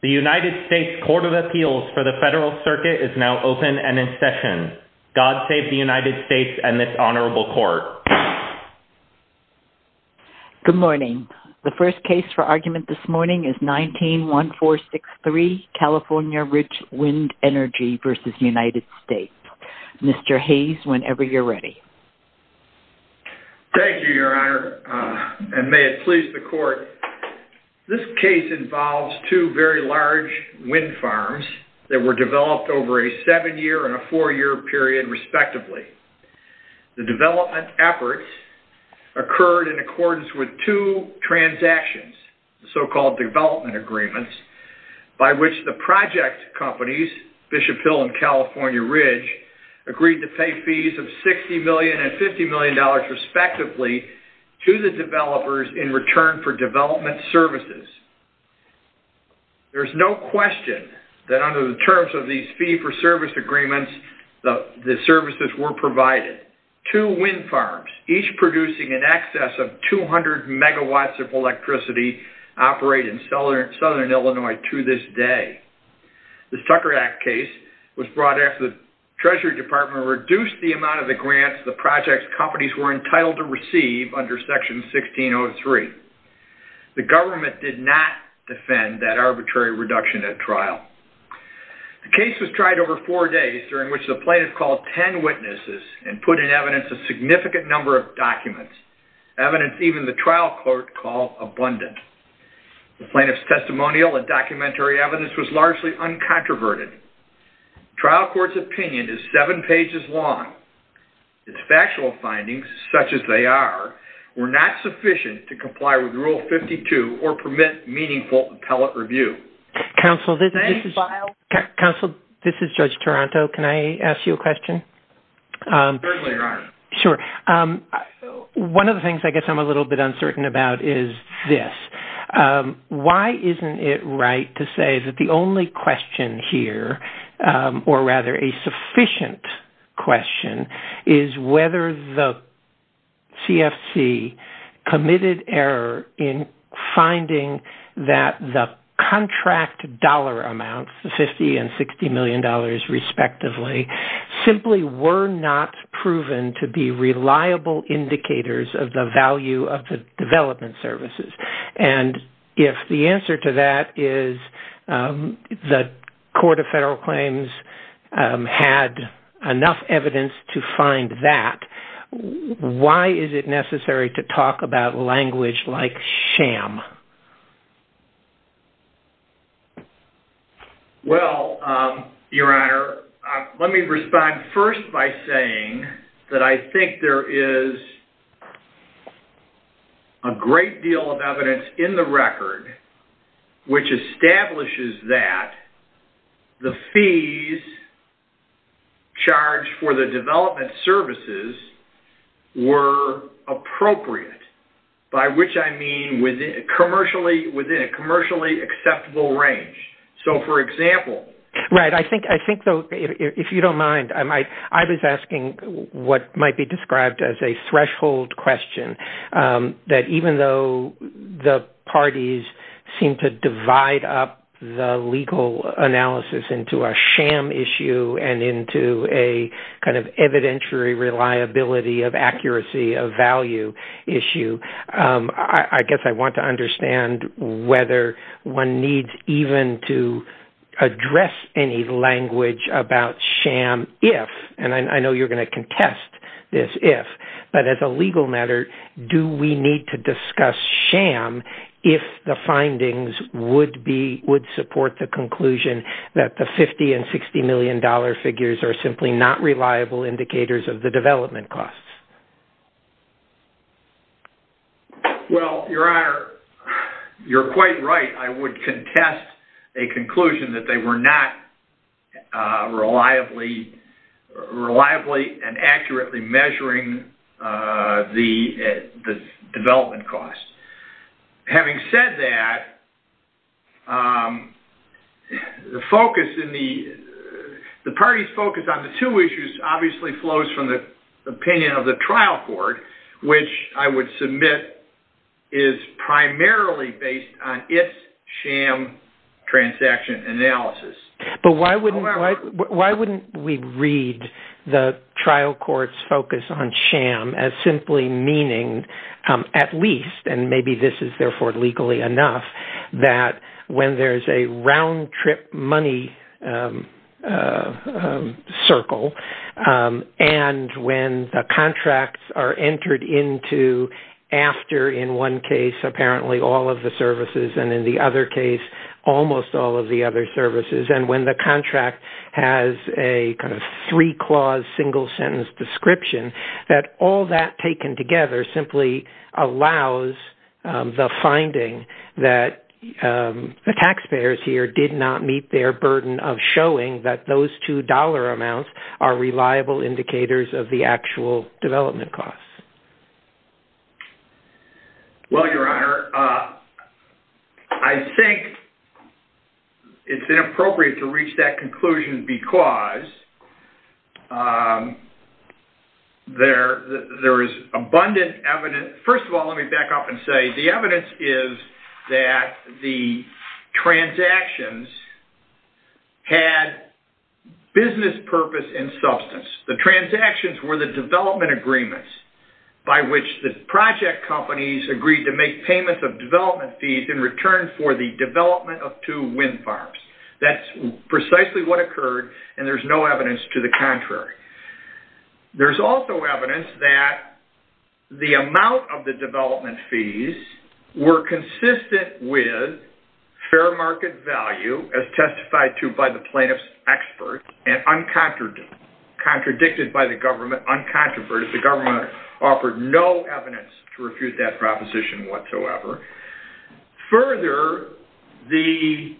The United States Court of Appeals for the Federal Circuit is now open and in session. God save the United States and this honorable court. Good morning. The first case for argument this morning is 19-1463, California Ridge Wind Energy v. United States. Mr. Hayes, whenever you're ready. Thank you, Your Honor, and may it please the court. This case involves two very large wind farms that were developed over a seven-year and a four-year period, respectively. The development efforts occurred in accordance with two transactions, so-called development agreements, by which the project companies, Bishop Hill and California Ridge, agreed to pay fees of $60 million and $50 million, respectively, to the developers in return for development services. There's no question that under the terms of these fee-for-service agreements, the services were provided. Two wind farms, each producing in excess of 200 megawatts of electricity, operate in southern Illinois to this day. The Tucker Act case was brought after the Treasury Department reduced the amount of the grants the project companies were entitled to receive under Section 1603. The government did not defend that arbitrary reduction at trial. The case was tried over four days, during which the plaintiff called 10 witnesses and put in evidence a significant number of documents, evidence even the trial court called abundant. The plaintiff's testimonial and documentary evidence was largely uncontroverted. The trial court's opinion is seven pages long. Its factual findings, such as they are, were not sufficient to comply with Rule 52 or permit meaningful appellate review. Thank you. Counsel, this is Judge Toronto. Can I ask you a question? Certainly, Ron. Sure. One of the things I guess I'm a little bit uncertain about is this. If the answer to that is the Court of Federal Claims had enough evidence to find that, why is it necessary to talk about language like sham? Well, Your Honor, let me respond first by saying that I think there is a great deal of evidence in the record which establishes that the fees charged for the development services were appropriate. By which I mean within a commercially acceptable range. So, for example... I guess I want to understand whether one needs even to address any language about sham if, and I know you're going to contest this if, but as a legal matter, do we need to discuss sham if the findings would support the conclusion that the $50 and $60 million figures are simply not reliable indicators of the development costs? Well, Your Honor, you're quite right. I would contest a conclusion that they were not reliably and accurately measuring the development costs. Having said that, the party's focus on the two issues obviously flows from the opinion of the trial court, which I would submit is primarily based on its sham transaction analysis. But why wouldn't we read the trial court's focus on sham as simply meaning, at least, and maybe this is therefore legally enough, that when there's a round-trip money circle and when the contracts are entered into after, in one case, apparently all of the services, and in the other case, almost all of the other services, and when the contract has a kind of three-clause, single-sentence description, that all that taken together simply allows the finding that the taxpayers here did not meet their burden of showing that those two dollar amounts are reliable indicators of the actual development costs? Well, Your Honor, I think it's inappropriate to reach that conclusion because there is abundant evidence – first of all, let me back up and say the evidence is that the transactions had business purpose and substance. The transactions were the development agreements by which the project companies agreed to make payments of development fees in return for the development of two wind farms. That's precisely what occurred, and there's no evidence to the contrary. There's also evidence that the amount of the development fees were consistent with fair market value, as testified to by the plaintiff's expert, and uncontradicted by the government, uncontroverted, the government offered no evidence to refute that proposition whatsoever. Further, the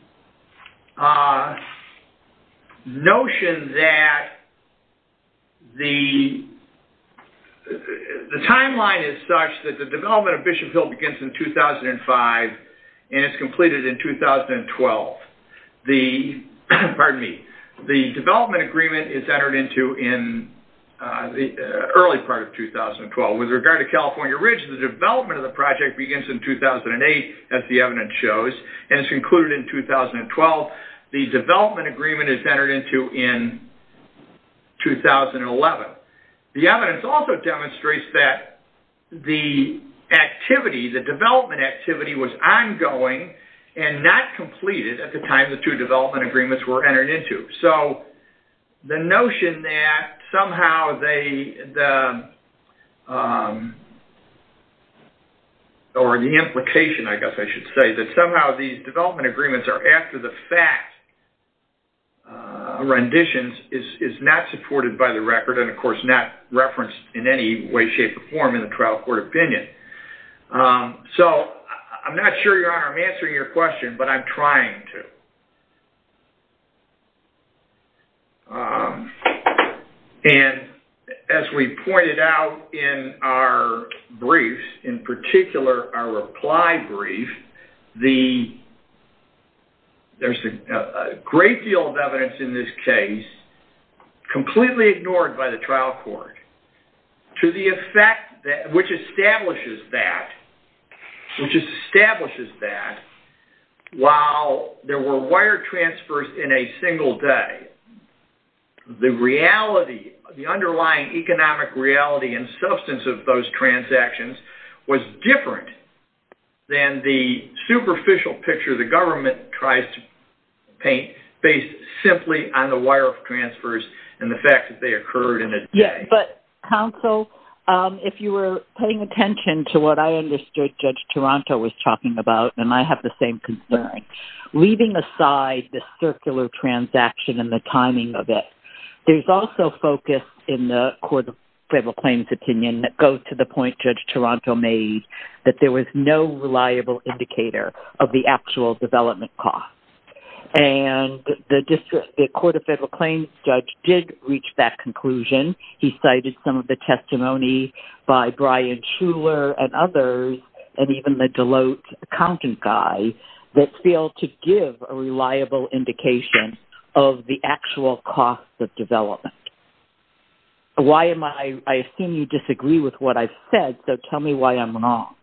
notion that the timeline is such that the development of Bishop Hill begins in 2005 and is completed in 2012. The development agreement is entered into in the early part of 2012. With regard to California Ridge, the development of the project begins in 2008, as the evidence shows, and is concluded in 2012. The development agreement is entered into in 2011. The evidence also demonstrates that the development activity was ongoing and not completed at the time the two development agreements were entered into. The notion that somehow these development agreements are after the fact renditions is not supported by the record and, of course, not referenced in any way, shape, or form in the trial court opinion. I'm not sure, Your Honor, I'm answering your question, but I'm trying to. As we pointed out in our briefs, in particular our reply brief, there's a great deal of evidence in this case completely ignored by the trial court, which establishes that while there were wire transfers in a single day, the underlying economic reality and substance of those transactions was different than the superficial picture the government tries to paint based simply on the wire transfers and the fact that they occurred in a day. Counsel, if you were paying attention to what I understood Judge Toronto was talking about, and I have the same concern, leaving aside the circular transaction and the timing of it, there's also focus in the Court of Federal Claims' opinion that goes to the point Judge Toronto made, that there was no reliable indicator of the actual development cost. And the Court of Federal Claims' judge did reach that conclusion. He cited some of the testimony by Brian Shuler and others, and even the Deloitte accountant guy, that failed to give a reliable indication of the actual cost of development. I assume you disagree with what I've said, so tell me why I'm wrong.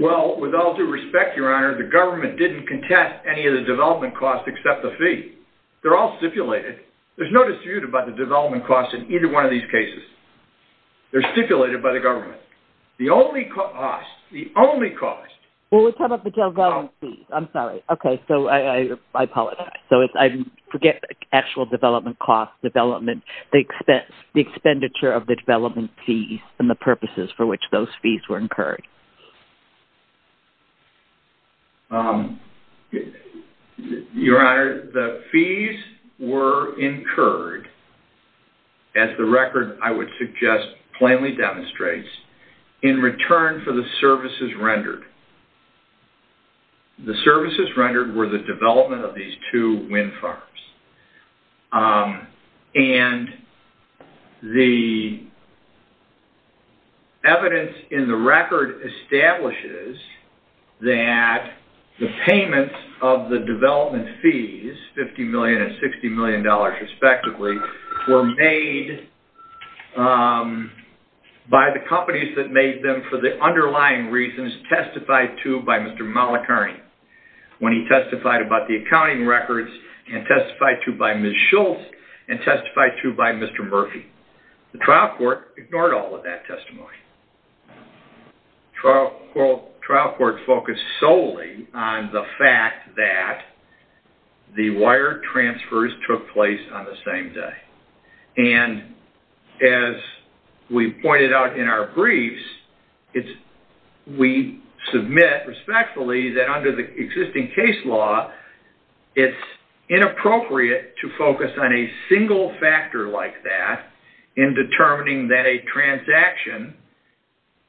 Well, with all due respect, Your Honor, the government didn't contest any of the development costs except the fee. They're all stipulated. There's no dispute about the development costs in either one of these cases. They're stipulated by the government. The only cost, the only cost... Well, we're talking about the development fees. I'm sorry. Okay, so I apologize. I forget the actual development costs, development, the expenditure of the development fees, and the purposes for which those fees were incurred. Your Honor, the fees were incurred, as the record, I would suggest, plainly demonstrates, in return for the services rendered. The services rendered were the development of these two wind farms. And the evidence in the record establishes that the payments of the development fees, $50 million and $60 million respectively, were made by the companies that made them for the underlying reasons testified to by Mr. Malacherny. When he testified about the accounting records, and testified to by Ms. Schultz, and testified to by Mr. Murphy. The trial court ignored all of that testimony. The trial court focused solely on the fact that the wire transfers took place on the same day. And as we pointed out in our briefs, we submit, respectfully, that under the existing case law, it's inappropriate to focus on a single factor like that in determining that a transaction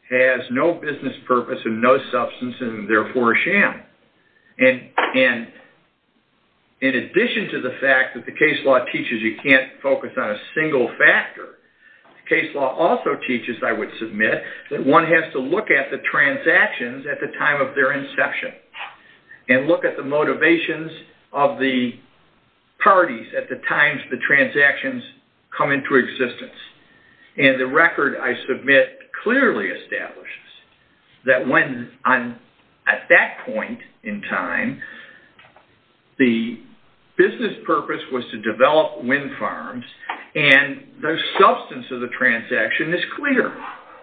has no business purpose and no substance, and therefore a sham. And in addition to the fact that the case law teaches you can't focus on a single factor, the case law also teaches, I would submit, that one has to look at the transactions at the time of their inception. And look at the motivations of the parties at the times the transactions come into existence. And the record I submit clearly establishes that at that point in time, the business purpose was to develop wind farms, and the substance of the transaction is clear.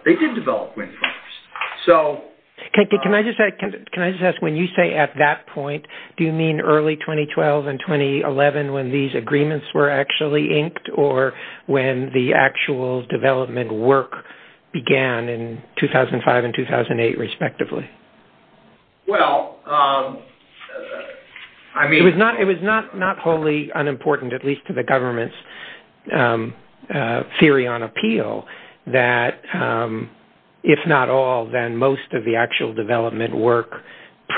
They did develop wind farms. Can I just ask, when you say at that point, do you mean early 2012 and 2011 when these agreements were actually inked, or when the actual development work began in 2005 and 2008, respectively? Well, I mean... It was not wholly unimportant, at least to the government's theory on appeal, that if not all, then most of the actual development work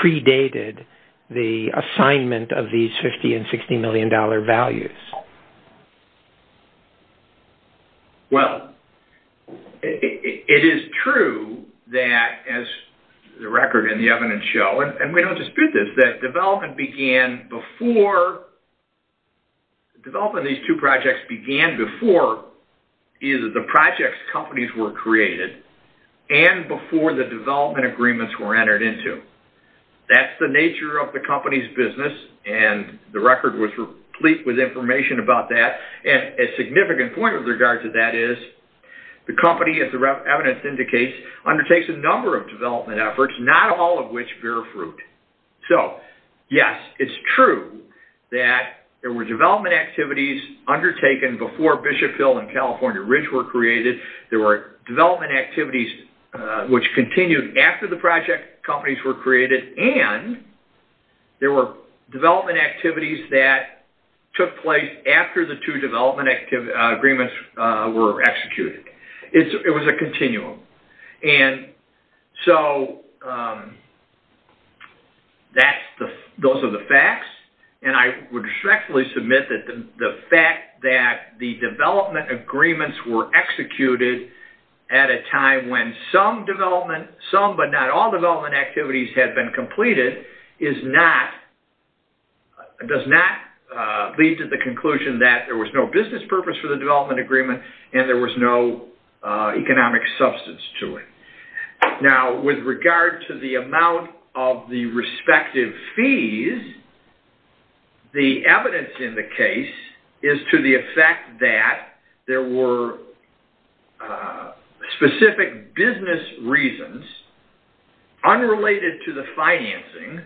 predated the assignment of these $50 and $60 million values. Well, it is true that, as the record and the evidence show, and we don't dispute this, that development began before... Development of these two projects began before either the projects companies were created and before the development agreements were entered into. That's the nature of the company's business, and the record was replete with information about that. And a significant point with regard to that is, the company, as the evidence indicates, undertakes a number of development efforts, not all of which bear fruit. So, yes, it's true that there were development activities undertaken before Bishopville and California Ridge were created. There were development activities which continued after the project companies were created, and there were development activities that took place after the two development agreements were executed. It was a continuum. And so, those are the facts, and I would respectfully submit that the fact that the development agreements were executed at a time when some development, some but not all development activities had been completed, is not, does not lead to the conclusion that there was no business purpose for the development agreement and there was no economic substance to it. Now, with regard to the amount of the respective fees, the evidence in the case is to the effect that there were specific business reasons, unrelated to the financing,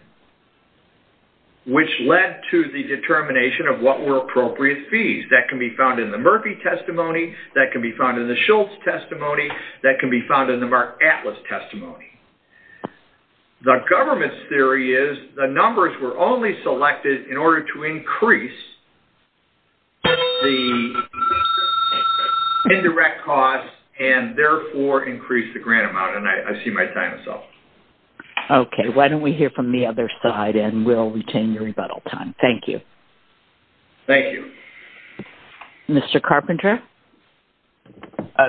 which led to the determination of what were appropriate fees. That can be found in the Murphy testimony, that can be found in the Schultz testimony, that can be found in the Mark Atlas testimony. The government's theory is the numbers were only selected in order to increase the indirect costs and therefore increase the grant amount, and I see my time is up. Okay, why don't we hear from the other side and we'll retain your rebuttal time. Thank you. Thank you. Mr. Carpenter?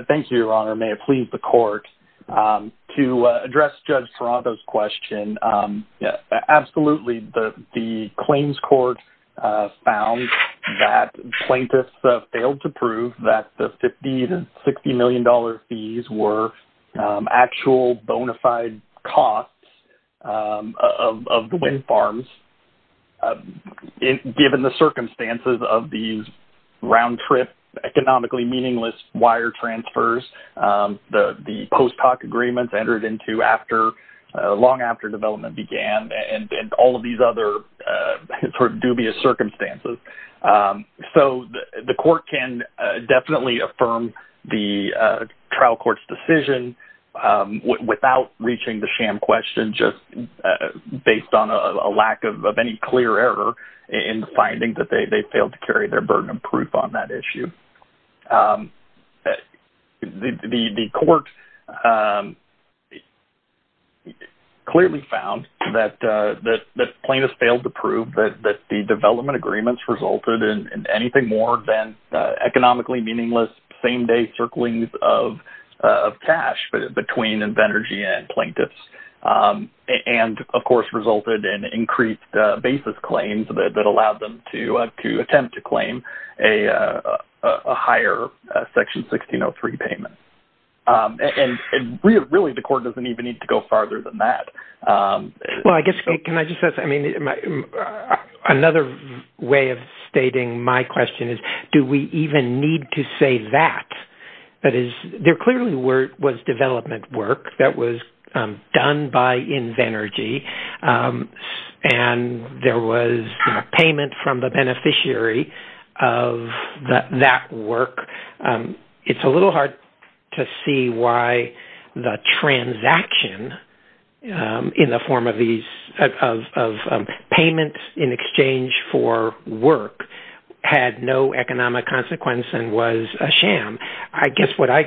Thank you, Your Honor. May it please the court. To address Judge Toronto's question, absolutely, the claims court found that plaintiffs failed to prove that the $50 to $60 million fees were actual bona fide costs of the wind farms, given the circumstances of these round-trip, economically meaningless wire transfers, the post hoc agreements entered into long after development began, and all of these other dubious circumstances. So, the court can definitely affirm the trial court's decision without reaching the sham question, just based on a lack of any clear error in finding that they failed to carry their burden of proof on that issue. The court clearly found that plaintiffs failed to prove that the development agreements resulted in anything more than economically meaningless same-day circlings of cash between Invenergy and plaintiffs, and, of course, resulted in increased basis claims that allowed them to attempt to claim a higher Section 1603 payment. And really, the court doesn't even need to go farther than that. Well, I guess, can I just add something? Another way of stating my question is, do we even need to say that? There clearly was development work that was done by Invenergy, and there was payment from the beneficiary of that work. It's a little hard to see why the transaction in the form of payments in exchange for work had no economic consequence and was a sham. I guess what I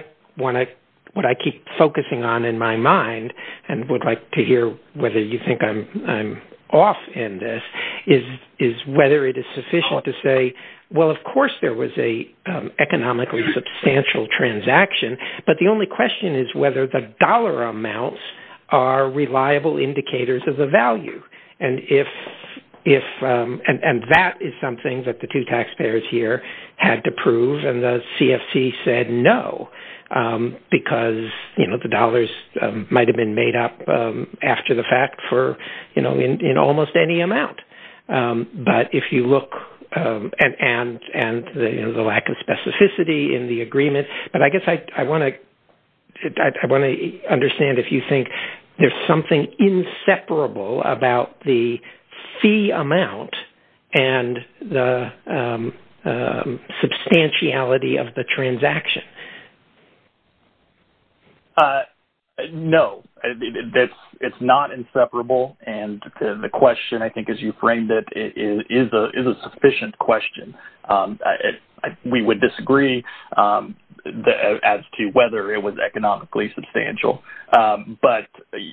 keep focusing on in my mind, and would like to hear whether you think I'm off in this, is whether it is sufficient to say, well, of course, there was an economically substantial transaction, but the only question is whether the dollar amounts are reliable indicators of the value. And that is something that the two taxpayers here had to prove, and the CFC said no, because the dollars might have been made up after the fact in almost any amount. But if you look, and the lack of specificity in the agreement, but I guess I want to understand if you think there's something inseparable about the fee amount and the substantiality of the transaction. No, it's not inseparable, and the question I think as you framed it is a sufficient question. We would disagree as to whether it was economically substantial, but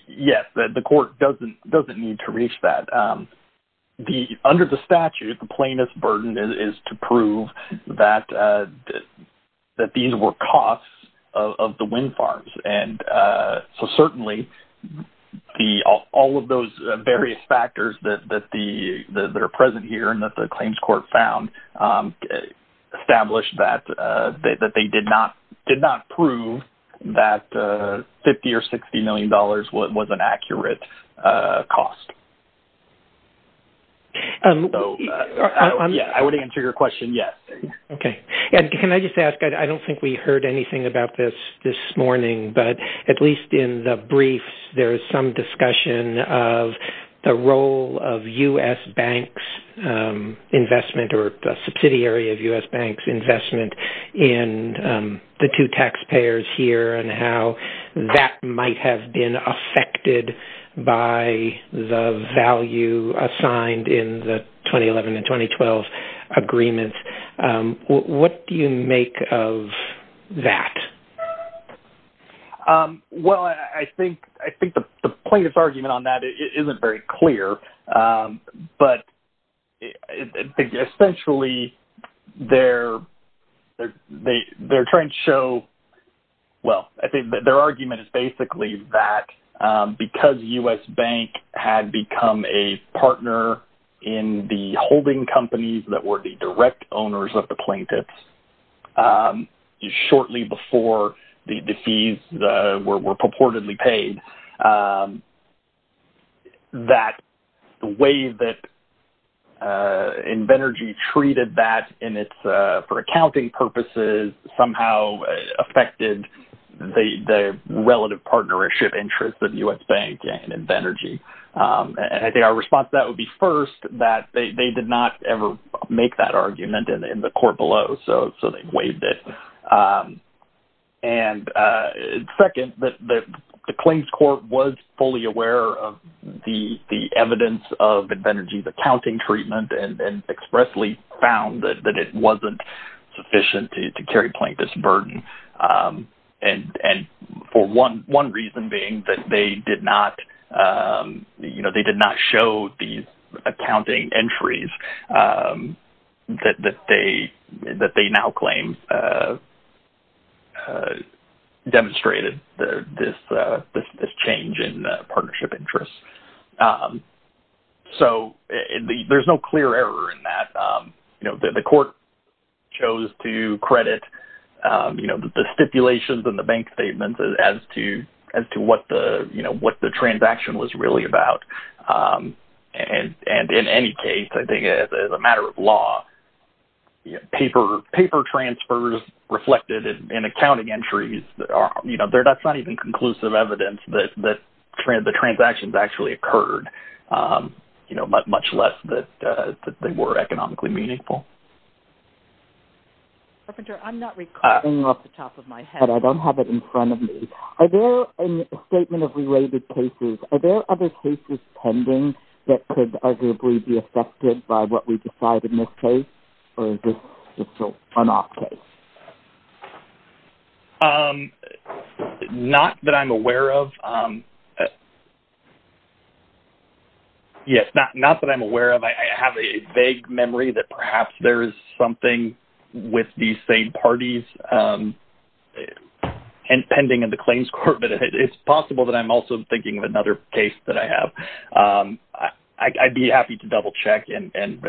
yes, the court doesn't need to reach that. Under the statute, the plainest burden is to prove that these were costs of the wind farms. And so certainly, all of those various factors that are present here and that the claims court found established that they did not prove that $50 or $60 million was an accurate cost. So, I would answer your question, yes. Okay. And can I just ask, I don't think we heard anything about this this morning, but at least in the briefs, there is some discussion of the role of U.S. banks' investment or the subsidiary of U.S. banks' investment in the two taxpayers here, and how that might have been affected by the value assigned in the 2011 and 2012 agreements. What do you make of that? Well, I think the plaintiff's argument on that isn't very clear, but essentially, they're trying to show – well, their argument is basically that because U.S. bank had become a partner in the holding companies that were the direct owners of the plaintiffs, shortly before the fees were purportedly paid, that the way that Invenergy treated that for accounting purposes somehow affected the relative partnership interest of U.S. bank and Invenergy. And I think our response to that would be, first, that they did not ever make that argument in the court below, so they waived it. And second, the claims court was fully aware of the evidence of Invenergy's accounting treatment and expressly found that it wasn't sufficient to carry plaintiffs' burden. And for one reason being that they did not show these accounting entries that they now claim demonstrated this change in partnership interest. So, there's no clear error in that. The court chose to credit the stipulations and the bank statements as to what the transaction was really about. And in any case, I think as a matter of law, paper transfers reflected in accounting entries, that's not even conclusive evidence that the transactions actually occurred, much less that they were economically meaningful. Perpetrator, I'm not recording off the top of my head. But I don't have it in front of me. Are there, in the statement of related cases, are there other cases pending that could arguably be affected by what we've decided in this case, or is this just a one-off case? Not that I'm aware of. Yes, not that I'm aware of. I have a vague memory that perhaps there is something with these same parties pending in the claims court, but it's possible that I'm also thinking of another case that I have. I'd be happy to double-check and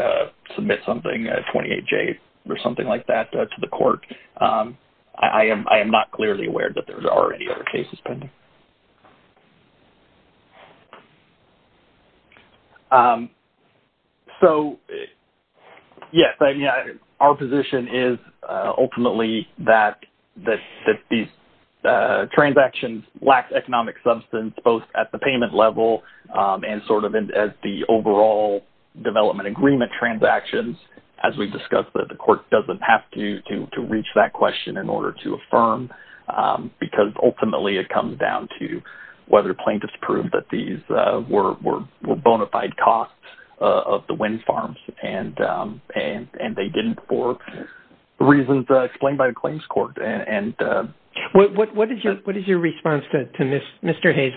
submit something, a 28-J or something like that, to the court. I am not clearly aware that there are any other cases pending. So, yes, I mean, our position is ultimately that these transactions lack economic substance, both at the payment level and sort of as the overall development agreement transactions, as we've discussed, that the court doesn't have to reach that question in order to affirm, because ultimately it comes down to the payment level. It comes down to whether plaintiffs proved that these were bona fide costs of the wind farms, and they didn't for reasons explained by the claims court. What is your response to Mr. Hayes?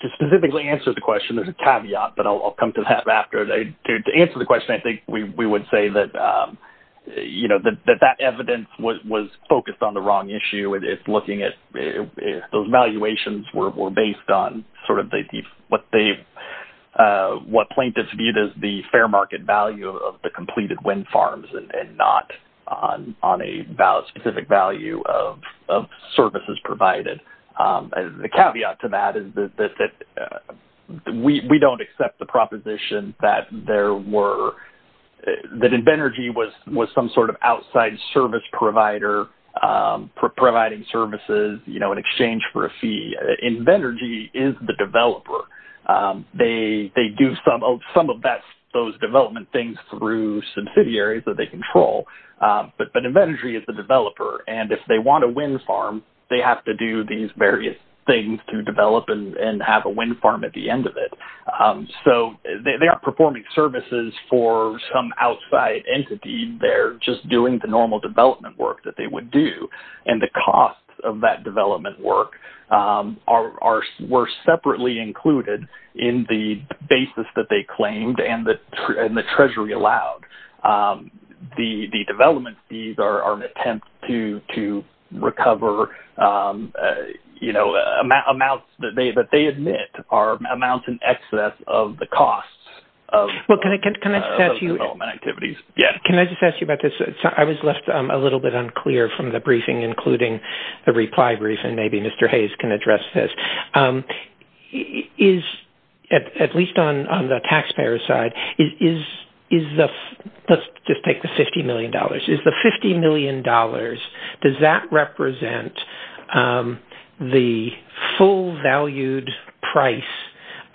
To specifically answer the question, there's a caveat, but I'll come to that after. To answer the question, I think we would say that that evidence was focused on the wrong issue. Those valuations were based on what plaintiffs viewed as the fair market value of the completed wind farms and not on a specific value of services provided. The caveat to that is that we don't accept the proposition that Invenergy was some sort of outside service provider providing services in exchange for a fee. Invenergy is the developer. They do some of those development things through subsidiaries that they control, but Invenergy is the developer. If they want a wind farm, they have to do these various things to develop and have a wind farm at the end of it. They are performing services for some outside entity. They're just doing the normal development work that they would do, and the costs of that development work were separately included in the basis that they claimed and the treasury allowed. The development fees are an attempt to recover amounts that they admit are amounts in excess of the costs of those development activities. Can I just ask you about this? I was left a little bit unclear from the briefing, including the reply briefing. Maybe Mr. Hayes can address this. At least on the taxpayer side, let's just take the $50 million. Is the $50 million, does that represent the full valued price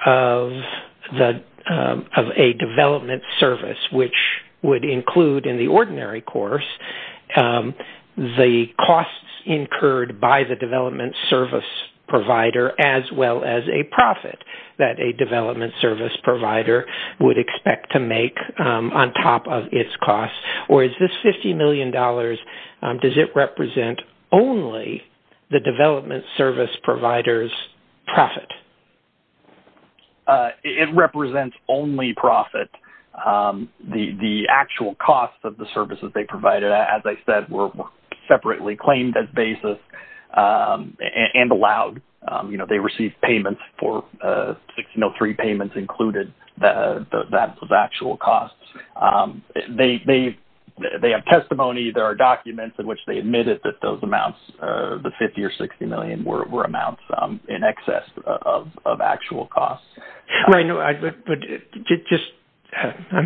of a development service, which would include in the ordinary course the costs incurred by the development service provider as well as a profit that a development service provider would expect to make on top of its costs? Or is this $50 million, does it represent only the development service provider's profit? It represents only profit. The actual costs of the services they provided, as I said, were separately claimed as basis and allowed. They received payments for 6003 payments included, that's the actual costs. They have testimony, there are documents in which they admitted that those amounts, the $50 or $60 million, were amounts in excess of actual costs. I'm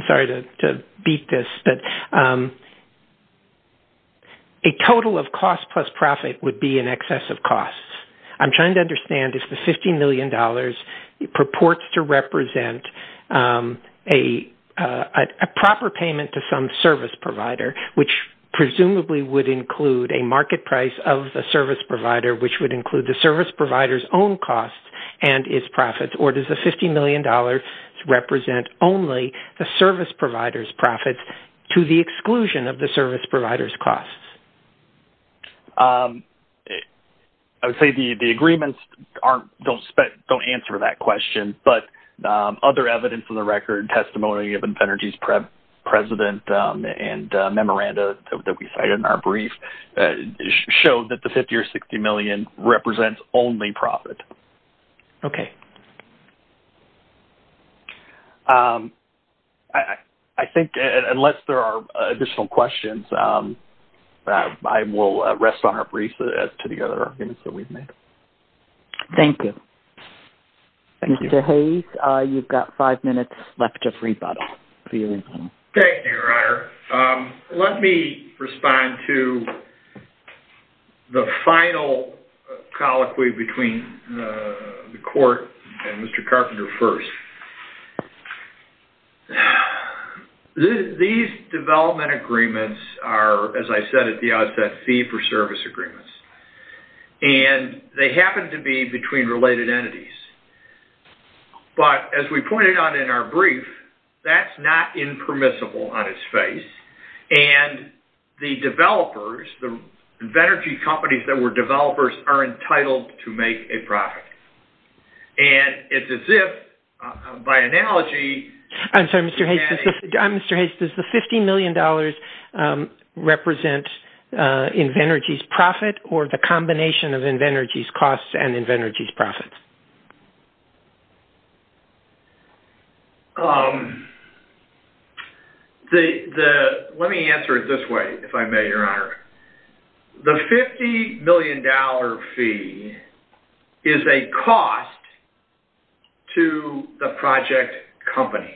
sorry to beat this, but a total of cost plus profit would be in excess of costs. I'm trying to understand if the $50 million purports to represent a proper payment to some service provider, which presumably would include a market price of the service provider, which would include the service provider's own costs and its profits, or does the $50 million represent only the service provider's profits to the exclusion of the service provider's costs? I would say the agreements don't answer that question, but other evidence on the record, testimony of Infenergy's president and memoranda that we cited in our brief, showed that the $50 or $60 million represents only profit. Okay. I think, unless there are additional questions, I will rest on our brief as to the other arguments that we've made. Thank you. Mr. Hayes, you've got five minutes left of rebuttal. Thank you, Your Honor. Let me respond to the final colloquy between the court and Mr. Carpenter first. These development agreements are, as I said at the outset, fee-for-service agreements, and they happen to be between related entities. But, as we pointed out in our brief, that's not impermissible on its face, and the developers, the Infenergy companies that were developers, are entitled to make a profit. And it's as if, by analogy... I'm sorry, Mr. Hayes, does the $50 million represent Infenergy's profit or the combination of Infenergy's costs and Infenergy's profits? Let me answer it this way, if I may, Your Honor. The $50 million fee is a cost to the project company.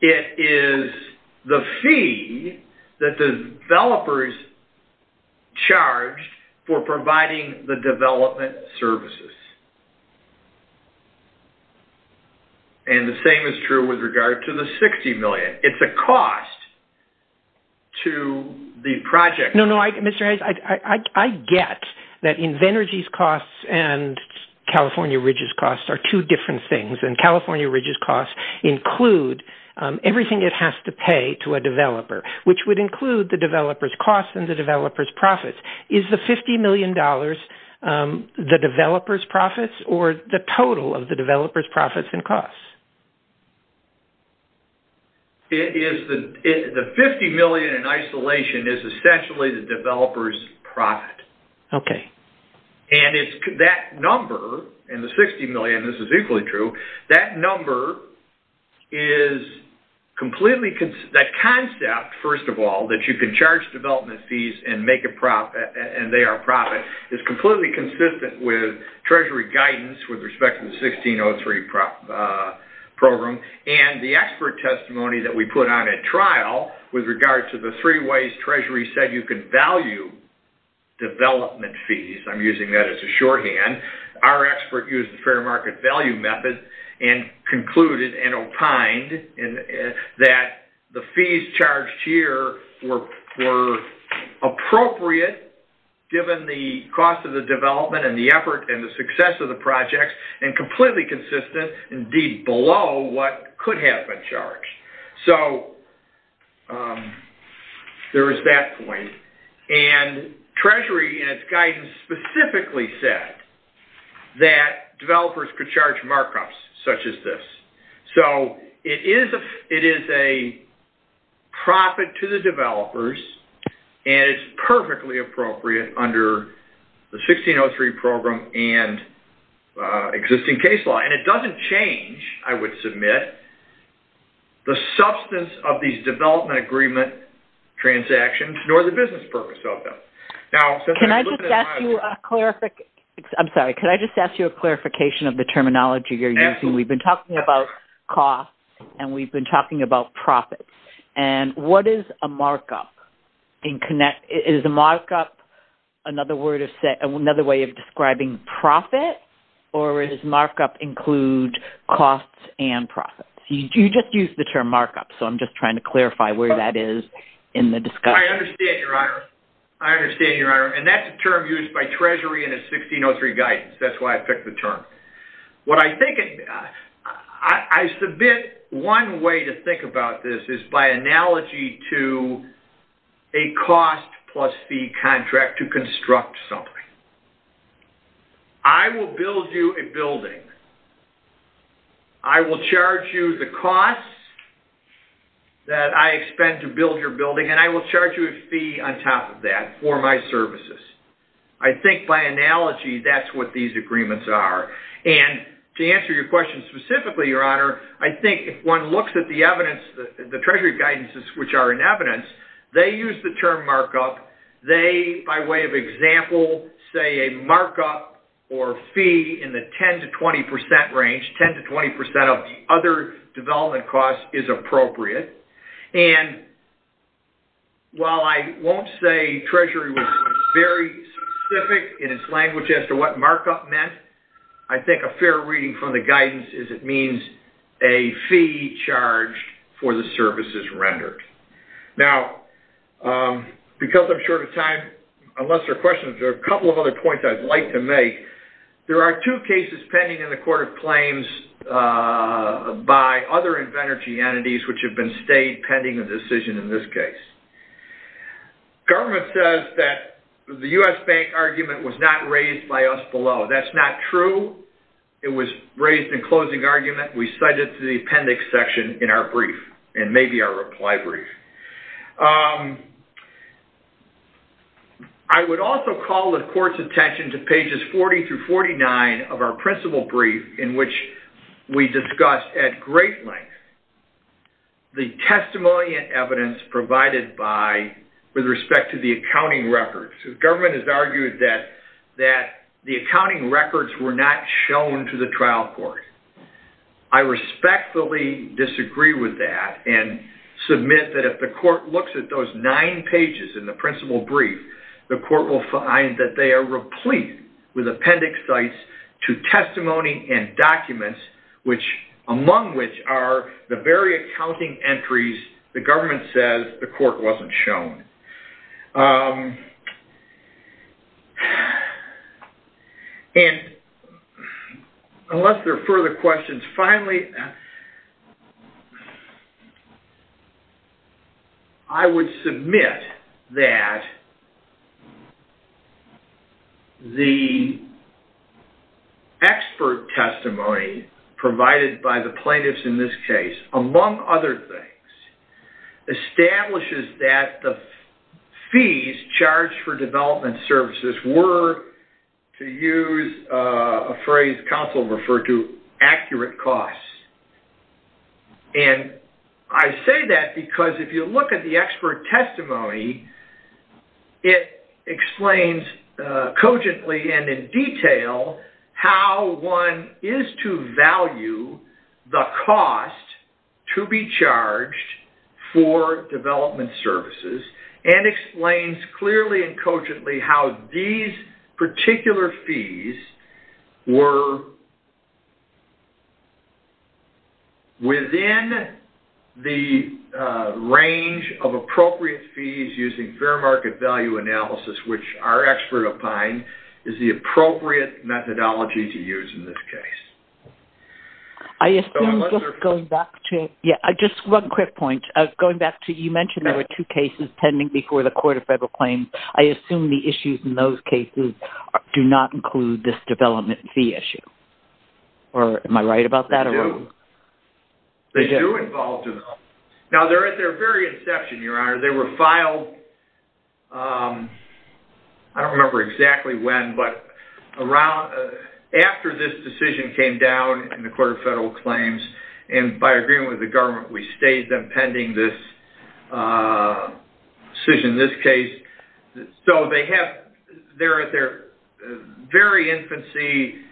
It is the fee that the developers charged for providing the development services. And the same is true with regard to the $60 million. It's a cost to the project. No, no, Mr. Hayes, I get that Infenergy's costs and California Ridge's costs are two different things, and California Ridge's costs include everything it has to pay to a developer, which would include the developer's costs and the developer's profits. Is the $50 million the developer's profits or the total of the developer's profits and costs? The $50 million in isolation is essentially the developer's profit. Okay. And that number, and the $60 million, this is equally true, that number is completely... That concept, first of all, that you can charge development fees and they are profit, is completely consistent with Treasury guidance with respect to the 1603 program. And the expert testimony that we put on at trial with regard to the three ways Treasury said you could value development fees, I'm using that as a shorthand. Our expert used the fair market value method and concluded and opined that the fees charged here were appropriate, given the cost of the development and the effort and the success of the project, and completely consistent, indeed below what could have been charged. So there is that point. And Treasury, in its guidance, specifically said that developers could charge markups such as this. So it is a profit to the developers and it's perfectly appropriate under the 1603 program and existing case law. And it doesn't change, I would submit, the substance of these development agreement transactions nor the business purpose of them. Can I just ask you a clarification of the terminology you're using? We've been talking about costs and we've been talking about profits. And what is a markup? Is a markup another way of describing profit? Or does markup include costs and profits? You just used the term markup, so I'm just trying to clarify where that is in the discussion. I understand, Your Honor. I understand, Your Honor. And that's a term used by Treasury in its 1603 guidance. That's why I picked the term. What I think, I submit one way to think about this is by analogy to a cost plus fee contract to construct something. I will build you a building. I will charge you the costs that I expend to build your building and I will charge you a fee on top of that for my services. I think by analogy that's what these agreements are. And to answer your question specifically, Your Honor, I think if one looks at the evidence, the Treasury guidances which are in evidence, they use the term markup. They, by way of example, say a markup or fee in the 10 to 20 percent range, 10 to 20 percent of the other development costs is appropriate. And while I won't say Treasury was very specific in its language as to what markup meant, I think a fair reading from the guidance is it means a fee charged for the services rendered. Now, because I'm short of time, unless there are questions, there are a couple of other points I'd like to make. There are two cases pending in the Court of Claims by other Invenergy entities which have been stayed pending a decision in this case. Government says that the U.S. Bank argument was not raised by us below. That's not true. It was raised in closing argument. We cite it to the appendix section in our brief and maybe our reply brief. I would also call the Court's attention to pages 40 through 49 of our principal brief in which we discuss at great length the testimony and evidence provided by, with respect to the accounting records. The government has argued that the accounting records were not shown to the trial court. I respectfully disagree with that and submit that if the court looks at those nine pages in the principal brief, the court will find that they are replete with appendix sites to testimony and documents, among which are the very accounting entries the government says the court wasn't shown. And unless there are further questions, finally, I would submit that the expert testimony provided by the plaintiffs in this case, among other things, establishes that the fees charged for development services were, to use a phrase counsel referred to, accurate costs. And I say that because if you look at the expert testimony, it explains cogently and in detail how one is to value the cost to be charged for development services and explains clearly and cogently how these particular fees were within the range of appropriate fees using fair market value analysis, which our expert opined is the appropriate methodology to use in this case. Just one quick point. You mentioned there were two cases pending before the court of federal claims. I assume the issues in those cases do not include this development fee issue. Am I right about that? They do involve development. Now, they're at their very inception, Your Honor. They were filed, I don't remember exactly when, but after this decision came down in the court of federal claims, and by agreement with the government, we stayed them pending this decision, this case. So, they're at their very infancy.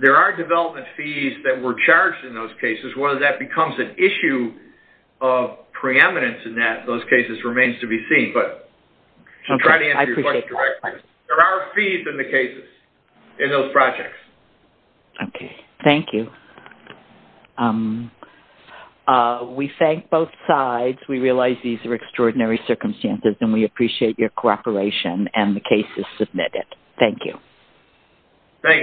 There are development fees that were charged in those cases. Whether that becomes an issue of preeminence in those cases remains to be seen. But to try to answer your question correctly, there are fees in the cases, in those projects. Okay. Thank you. We thank both sides. We realize these are extraordinary circumstances, and we appreciate your cooperation and the cases submitted. Thank you. Thank you.